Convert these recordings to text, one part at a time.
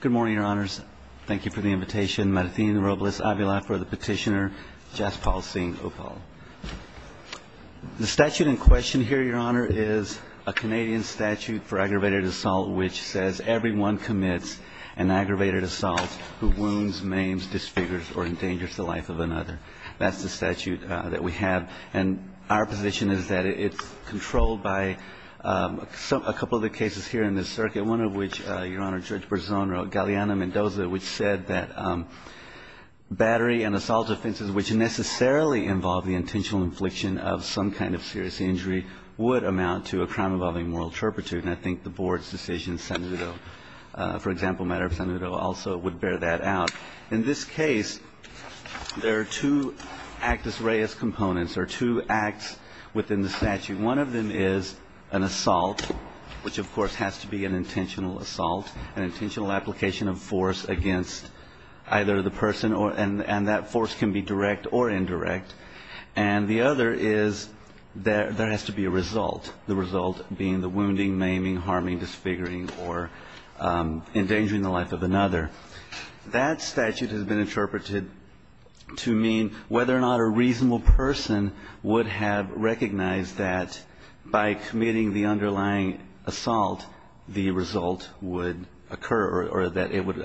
Good morning, your honors. Thank you for the invitation. Marthine Robles-Avila for the petitioner, Jaspal Singh Uppal. The statute in question here, your honor, is a Canadian statute for aggravated assault, which says, everyone commits an aggravated assault who wounds, maims, disfigures, or endangers the life of another. That's the statute that we have. And our position is that it's controlled by a couple of the cases here in the circuit, one of which, your honor, Judge Berzon wrote, Galeana Mendoza, which said that battery and assault offenses, which necessarily involve the intentional infliction of some kind of serious injury, would amount to a crime involving moral turpitude. And I think the board's decision, Senator, for example, matter of Senator, also would bear that out. In this case, there are two actus reus components or two acts within the statute. One of them is an assault, which, of course, has to be an intentional assault, an intentional application of force against either the person, and that force can be direct or indirect. And the other is there has to be a result, the result being the wounding, maiming, harming, disfiguring, or endangering the life of another. That statute has been interpreted to mean whether or not a reasonable person would have recognized that by committing the underlying assault, the result would occur or that it would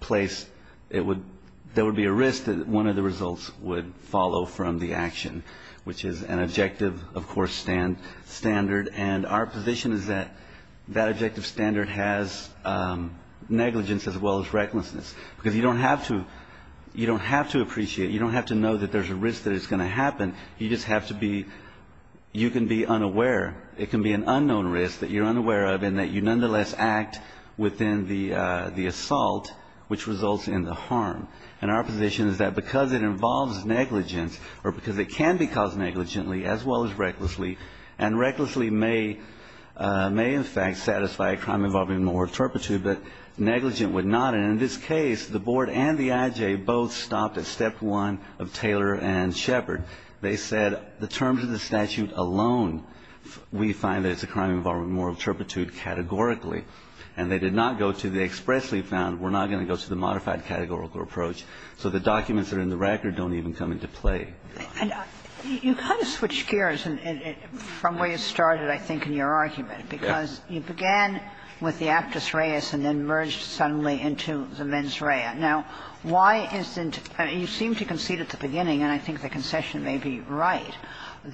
place, there would be a risk that one of the results would follow from the action, which is an objective, of course, standard. And our position is that that objective standard has negligence as well as recklessness. Because you don't have to, you don't have to appreciate, you don't have to know that there's a risk that it's going to happen. You just have to be, you can be unaware. It can be an unknown risk that you're unaware of and that you nonetheless act within the assault, which results in the harm. And our position is that because it involves negligence or because it can be caused negligently as well as recklessly, and recklessly may, may in fact satisfy a crime involving moral turpitude, but negligent would not. And in this case, the board and the IJ both stopped at step one of Taylor and Shepard. They said the terms of the statute alone, we find that it's a crime involving moral turpitude categorically. And they did not go to the expressly found, we're not going to go to the modified categorical approach. So the documents that are in the record don't even come into play. And you kind of switch gears from where you started, I think, in your argument. Because you began with the actus reus and then merged suddenly into the mens rea. Now, why isn't you seem to concede at the beginning, and I think the concession may be right,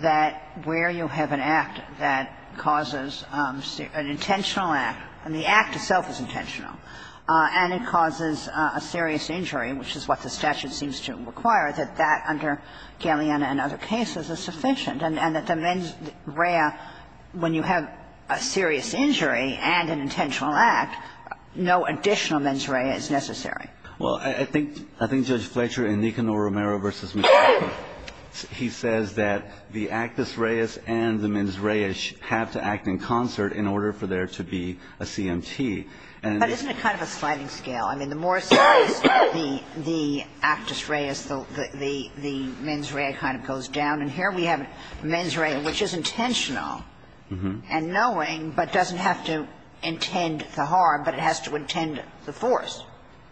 that where you have an act that causes an intentional act, and the act itself is intentional, and it causes a serious injury, which is what the statute seems to require, that that under Galeana and other cases is sufficient, and that the mens rea, when you have a serious injury and an intentional act, no additional mens rea is necessary? Well, I think Judge Fletcher in Nicanor Romero v. McLaughlin, he says that the actus reus and the mens rea have to act in concert in order for there to be a CMT. But isn't it kind of a sliding scale? I mean, the more serious the actus reus, the mens rea kind of goes down. And here we have mens rea, which is intentional and knowing, but doesn't have to intend the harm, but it has to intend the force.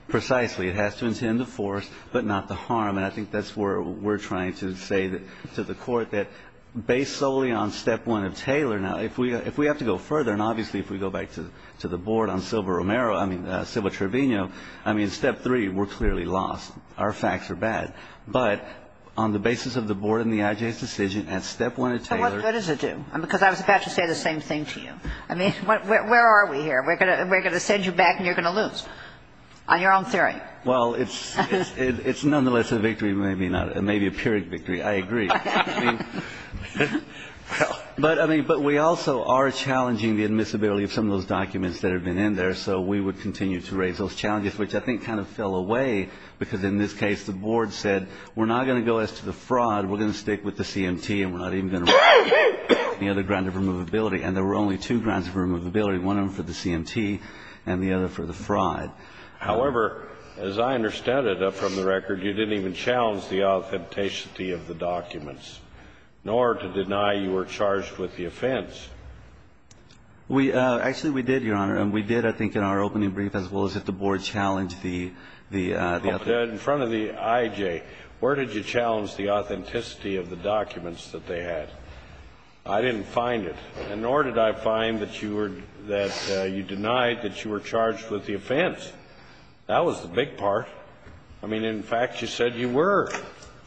Precisely. It has to intend the force, but not the harm. And I think that's where we're trying to say to the Court that based solely on step one of Taylor, now, if we have to go further, and obviously if we go back to the I mean, step three, we're clearly lost. Our facts are bad. But on the basis of the board and the IJ's decision, at step one of Taylor So what good does it do? Because I was about to say the same thing to you. I mean, where are we here? We're going to send you back and you're going to lose, on your own theory. Well, it's nonetheless a victory, maybe not. It may be a pyrrhic victory. I agree. I mean, but we also are challenging the admissibility of some of those documents that have been in there. So we would continue to raise those challenges, which I think kind of fell away. Because in this case, the board said, we're not going to go as to the fraud. We're going to stick with the CMT and we're not even going to write any other ground of removability. And there were only two grounds of removability, one of them for the CMT and the other for the fraud. However, as I understand it, up from the record, you didn't even challenge the authenticity of the documents, nor to deny you were charged with the offense. Actually, we did, Your Honor. And we did, I think, in our opening brief, as well as if the board challenged the offense. In front of the IJ, where did you challenge the authenticity of the documents that they had? I didn't find it. And nor did I find that you denied that you were charged with the offense. That was the big part. I mean, in fact, you said you were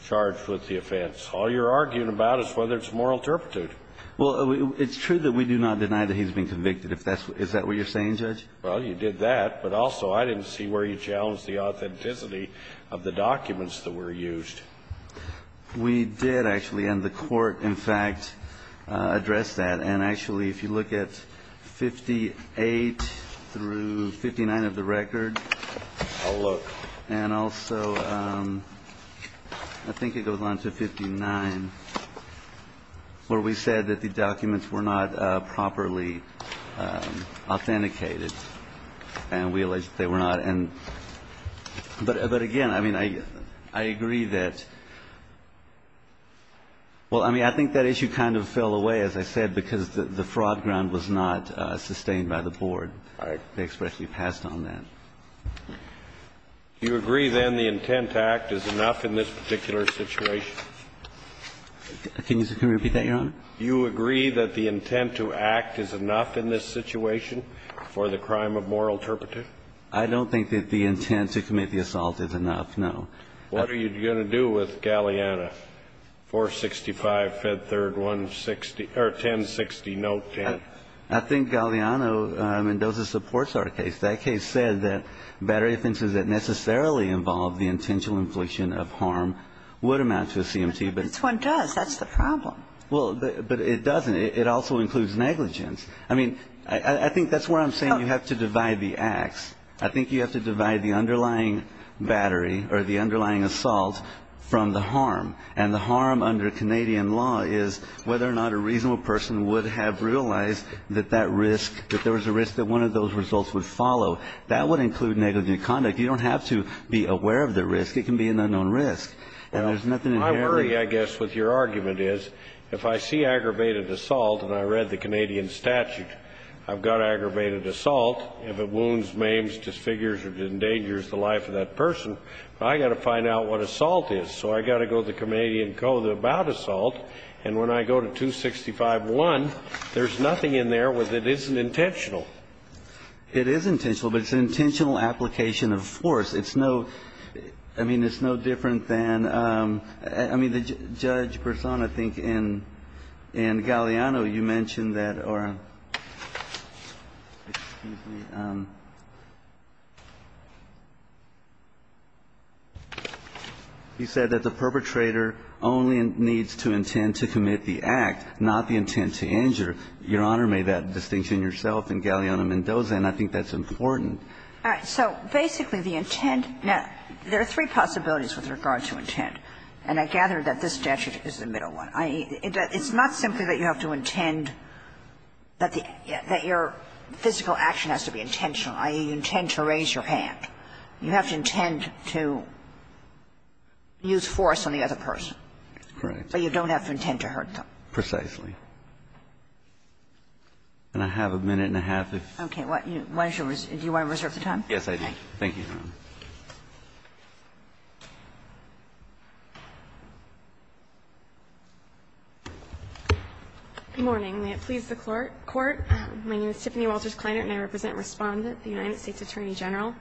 charged with the offense. All you're arguing about is whether it's moral turpitude. Well, it's true that we do not deny that he's been convicted. Is that what you're saying, Judge? Well, you did that. But also, I didn't see where you challenged the authenticity of the documents that were used. We did, actually. And the court, in fact, addressed that. And actually, if you look at 58 through 59 of the record. I'll look. And also, I think it goes on to 59, where we said that the documents were not properly authenticated. And we allege that they were not. But again, I mean, I agree that. Well, I mean, I think that issue kind of fell away, as I said, because the fraud ground was not sustained by the board. They expressly passed on that. Do you agree, then, the intent to act is enough in this particular situation? Can you repeat that, Your Honor? Do you agree that the intent to act is enough in this situation for the crime of moral turpitude? I don't think that the intent to commit the assault is enough, no. What are you going to do with Galliano, 465, Fed Third, 160 or 1060, note 10? I think Galliano, I mean, those are supports of our case. That case said that battery offenses that necessarily involve the intentional infliction of harm would amount to a CMT. But this one does. That's the problem. Well, but it doesn't. It also includes negligence. I mean, I think that's where I'm saying you have to divide the acts. I think you have to divide the underlying battery or the underlying assault from the harm. And the harm under Canadian law is whether or not a reasonable person would have realized that that risk, that there was a risk that one of those results would follow. That would include negligent conduct. You don't have to be aware of the risk. It can be an unknown risk. And there's nothing inherently. My worry, I guess, with your argument is if I see aggravated assault, and I read the Canadian statute, I've got aggravated assault. If it wounds, maims, disfigures or endangers the life of that person, I've got to find out what assault is. So I've got to go to the Canadian code about assault. And when I go to 265.1, there's nothing in there where it isn't intentional. It is intentional, but it's an intentional application of force. It's no – I mean, it's no different than – I mean, Judge Bersan, I think, in Galeano, you mentioned that or – excuse me. You said that the perpetrator only needs to intend to commit the act, not the intent to injure. Your Honor made that distinction yourself in Galeano-Mendoza, and I think that's important. All right. So basically, the intent – now, there are three possibilities with regard to intent. And I gather that this statute is the middle one. I mean, it's not simply that you have to intend that the – that your physical action has to be intentional, i.e., you intend to raise your hand. You have to intend to use force on the other person. Correct. But you don't have to intend to hurt them. Precisely. And I have a minute and a half if you want to reserve the time. Yes, I do. Thank you, Your Honor. Good morning. May it please the Court. My name is Tiffany Walters Kleiner, and I represent Respondent, the United States Attorney General.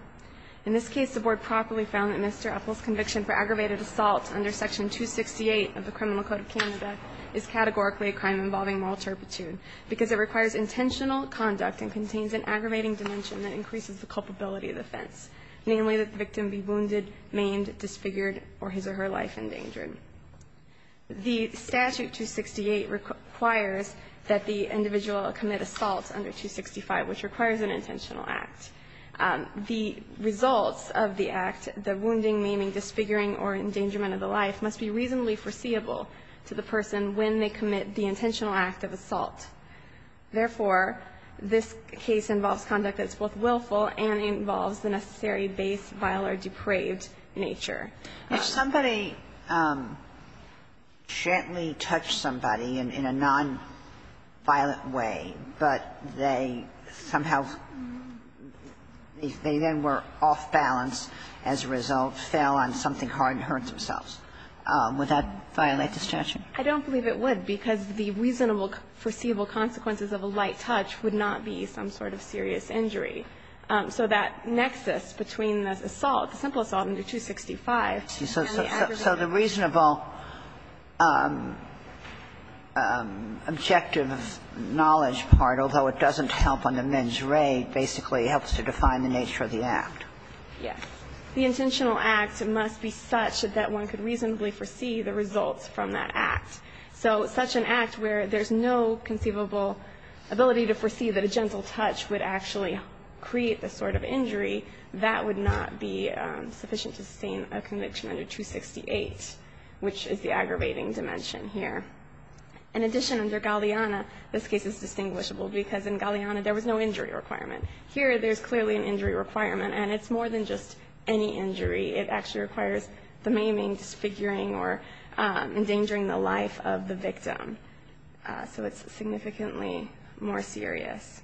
In this case, the Board properly found that Mr. Epple's conviction for aggravated assault under Section 268 of the Criminal Code of Canada is categorically a crime involving moral turpitude, because it requires intentional conduct and contains an aggravating dimension that increases the culpability of the offense. Namely, that the victim be wounded, maimed, disfigured, or his or her life endangered. The statute 268 requires that the individual commit assault under 265, which requires an intentional act. The results of the act, the wounding, maiming, disfiguring, or endangerment of the life, must be reasonably foreseeable to the person when they commit the intentional act of assault. Therefore, this case involves conduct that is both willful and involves the necessary base, vile, or depraved nature. If somebody gently touched somebody in a nonviolent way, but they somehow they then were off balance as a result, fell on something hard and hurt themselves, would that violate the statute? I don't believe it would, because the reasonable, foreseeable consequences of a light touch would not be some sort of serious injury. So that nexus between the assault, the simple assault under 265 and the aggravating dimension. So the reasonable objective knowledge part, although it doesn't help on the men's raid, basically helps to define the nature of the act? Yes. The intentional act must be such that one could reasonably foresee the results from that act. So such an act where there's no conceivable ability to foresee that a gentle touch would actually create this sort of injury, that would not be sufficient to sustain a conviction under 268, which is the aggravating dimension here. In addition, under Galeana, this case is distinguishable, because in Galeana, there was no injury requirement. Here, there's clearly an injury requirement, and it's more than just any injury. It actually requires the maiming, disfiguring, or endangering the life of the victim. So it's significantly more serious.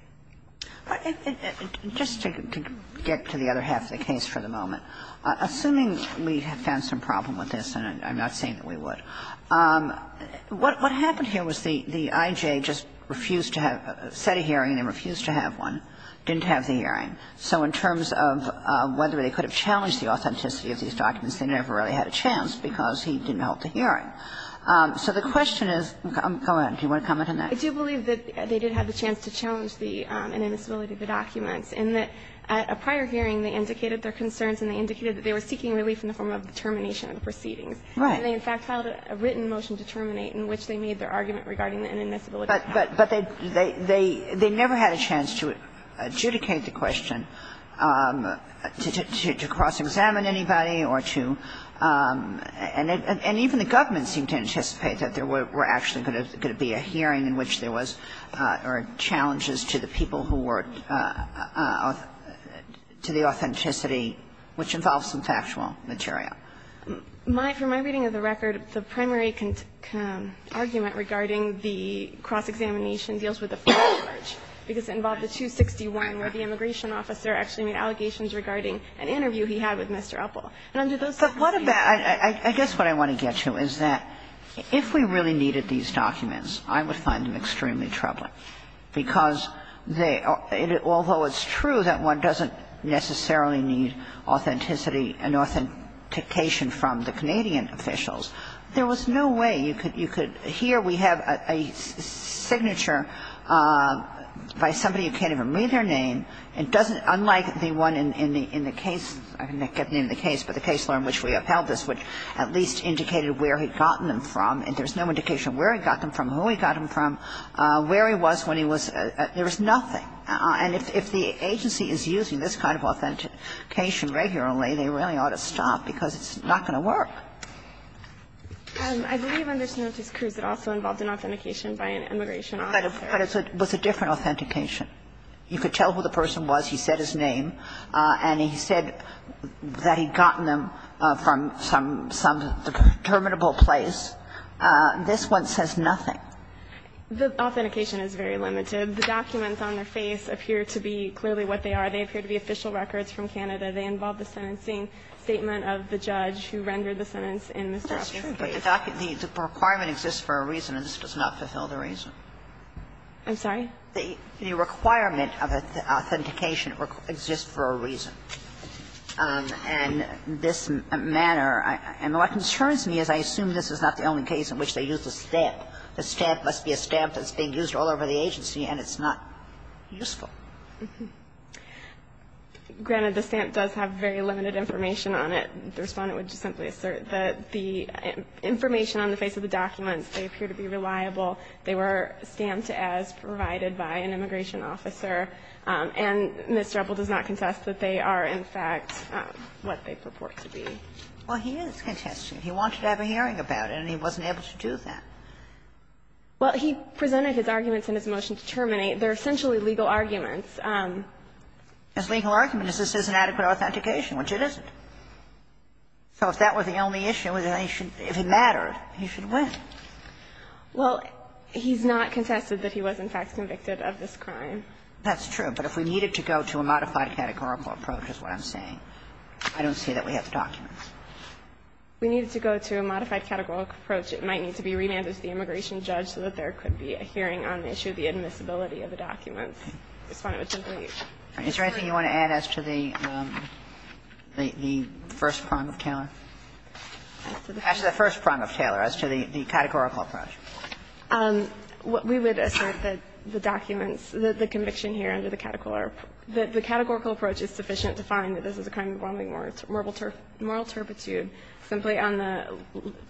Just to get to the other half of the case for the moment, assuming we have found some problem with this, and I'm not saying that we would, what happened here was the I.J. just refused to have the hearing. They refused to have one, didn't have the hearing. So in terms of whether they could have challenged the authenticity of these documents, they never really had a chance, because he didn't hold the hearing. So the question is go ahead. Do you want to comment on that? I do believe that they did have the chance to challenge the inadmissibility of the documents, and that at a prior hearing, they indicated their concerns and they indicated that they were seeking relief in the form of the termination of the proceedings. Right. And they, in fact, filed a written motion to terminate in which they made their argument regarding the inadmissibility of the documents. But they never had a chance to adjudicate the question, to cross-examine anybody or to – and even the government seemed to anticipate that there were actually going to be a hearing in which there was – or challenges to the people who were – to the authenticity, which involves some factual material. For my reading of the record, the primary argument regarding the cross-examination deals with the first charge, because it involved the 261, where the immigration officer actually made allegations regarding an interview he had with Mr. Uppel. But what about – I guess what I want to get to is that if we really needed these documents, I would find them extremely troubling, because they – although it's true that one doesn't necessarily need authenticity and authentication from the Canadian officials, there was no way you could – here we have a signature by somebody who can't even read their name. It doesn't – unlike the one in the case – I can't get the name of the case, but the case law in which we upheld this, which at least indicated where he'd gotten them from, and there's no indication of where he got them from, who he got them from, where he was when he was – there was nothing. And if the agency is using this kind of authentication regularly, they really ought to stop, because it's not going to work. I believe under Snooker's cruise it also involved an authentication by an immigration officer. But it was a different authentication. You could tell who the person was. He said his name. And he said that he'd gotten them from some terminable place. This one says nothing. The authentication is very limited. The documents on their face appear to be clearly what they are. They appear to be official records from Canada. They involve the sentencing statement of the judge who rendered the sentence in Mr. Ostrowski's case. But the requirement exists for a reason, and this does not fulfill the reason. I'm sorry? The requirement of authentication exists for a reason. And this manner – and what concerns me is I assume this is not the only case in which they used a stamp. The stamp must be a stamp that's being used all over the agency, and it's not useful. Mm-hmm. Granted, the stamp does have very limited information on it. The Respondent would just simply assert that the information on the face of the documents, they appear to be reliable. They were stamped as provided by an immigration officer. And Mr. Epple does not contest that they are, in fact, what they purport to be. Well, he is contesting. He wanted to have a hearing about it, and he wasn't able to do that. Well, he presented his arguments in his motion to terminate. They're essentially legal arguments. His legal argument is this is an adequate authentication, which it isn't. So if that were the only issue, then he should – if it mattered, he should win. Well, he's not contested that he was, in fact, convicted of this crime. That's true. But if we needed to go to a modified categorical approach is what I'm saying. I don't see that we have the documents. If we needed to go to a modified categorical approach, it might need to be remanded to the immigration judge so that there could be a hearing on the issue of the admissibility of the documents. The Respondent would simply use that. Is there anything you want to add as to the first prong of Taylor? As to the first prong of Taylor, as to the categorical approach. We would assert that the documents, the conviction here under the categorical approach, the categorical approach is sufficient to find that this is a crime involving moral – moral turpitude simply on the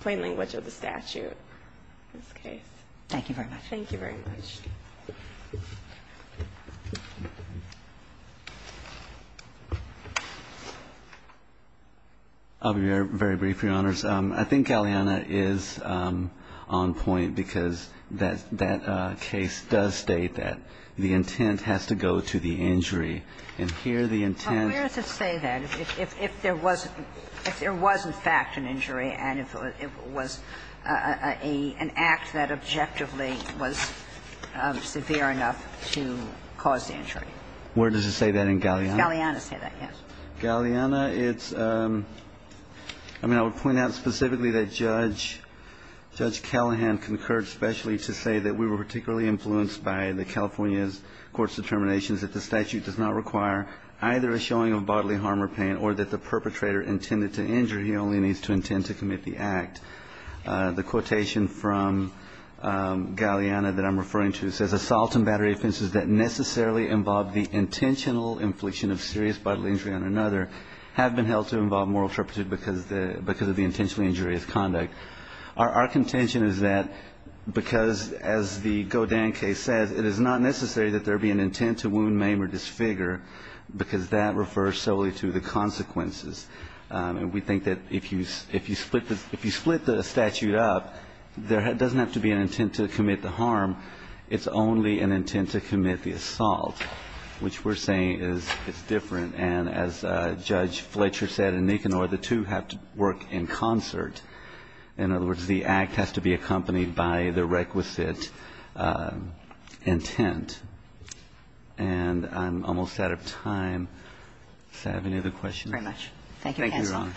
plain language of the statute in this case. Thank you very much. Thank you very much. I'll be very brief, Your Honors. I think Alianna is on point because that case does state that the intent has to go to the injury. And here the intent – Where does it say that? If there was – if there was in fact an injury and if it was an act that objectively was severe enough to cause the injury? Where does it say that in Galeana? Does Galeana say that, yes? Galeana, it's – I mean, I would point out specifically that Judge – Judge Callahan concurred specially to say that we were particularly influenced by the California's court's determinations that the statute does not require either a showing of bodily harm or pain or that the perpetrator intended to injure, he only needs to intend to commit the act. The quotation from Galeana that I'm referring to says, Assault and battery offenses that necessarily involve the intentional infliction of serious bodily injury on another have been held to involve moral turpitude because the – because of the intentionally injurious conduct. Our contention is that because, as the Godin case says, it is not necessary that there be an intent to wound, maim or disfigure because that refers solely to the consequences. And we think that if you – if you split the – if you split the statute up, there doesn't have to be an intent to commit the harm. It's only an intent to commit the assault, which we're saying is it's different. And as Judge Fletcher said and Nicanor, the two have to work in concert. In other words, the act has to be accompanied by the requisite intent. And I'm almost out of time. Does that have any other questions? Kagan.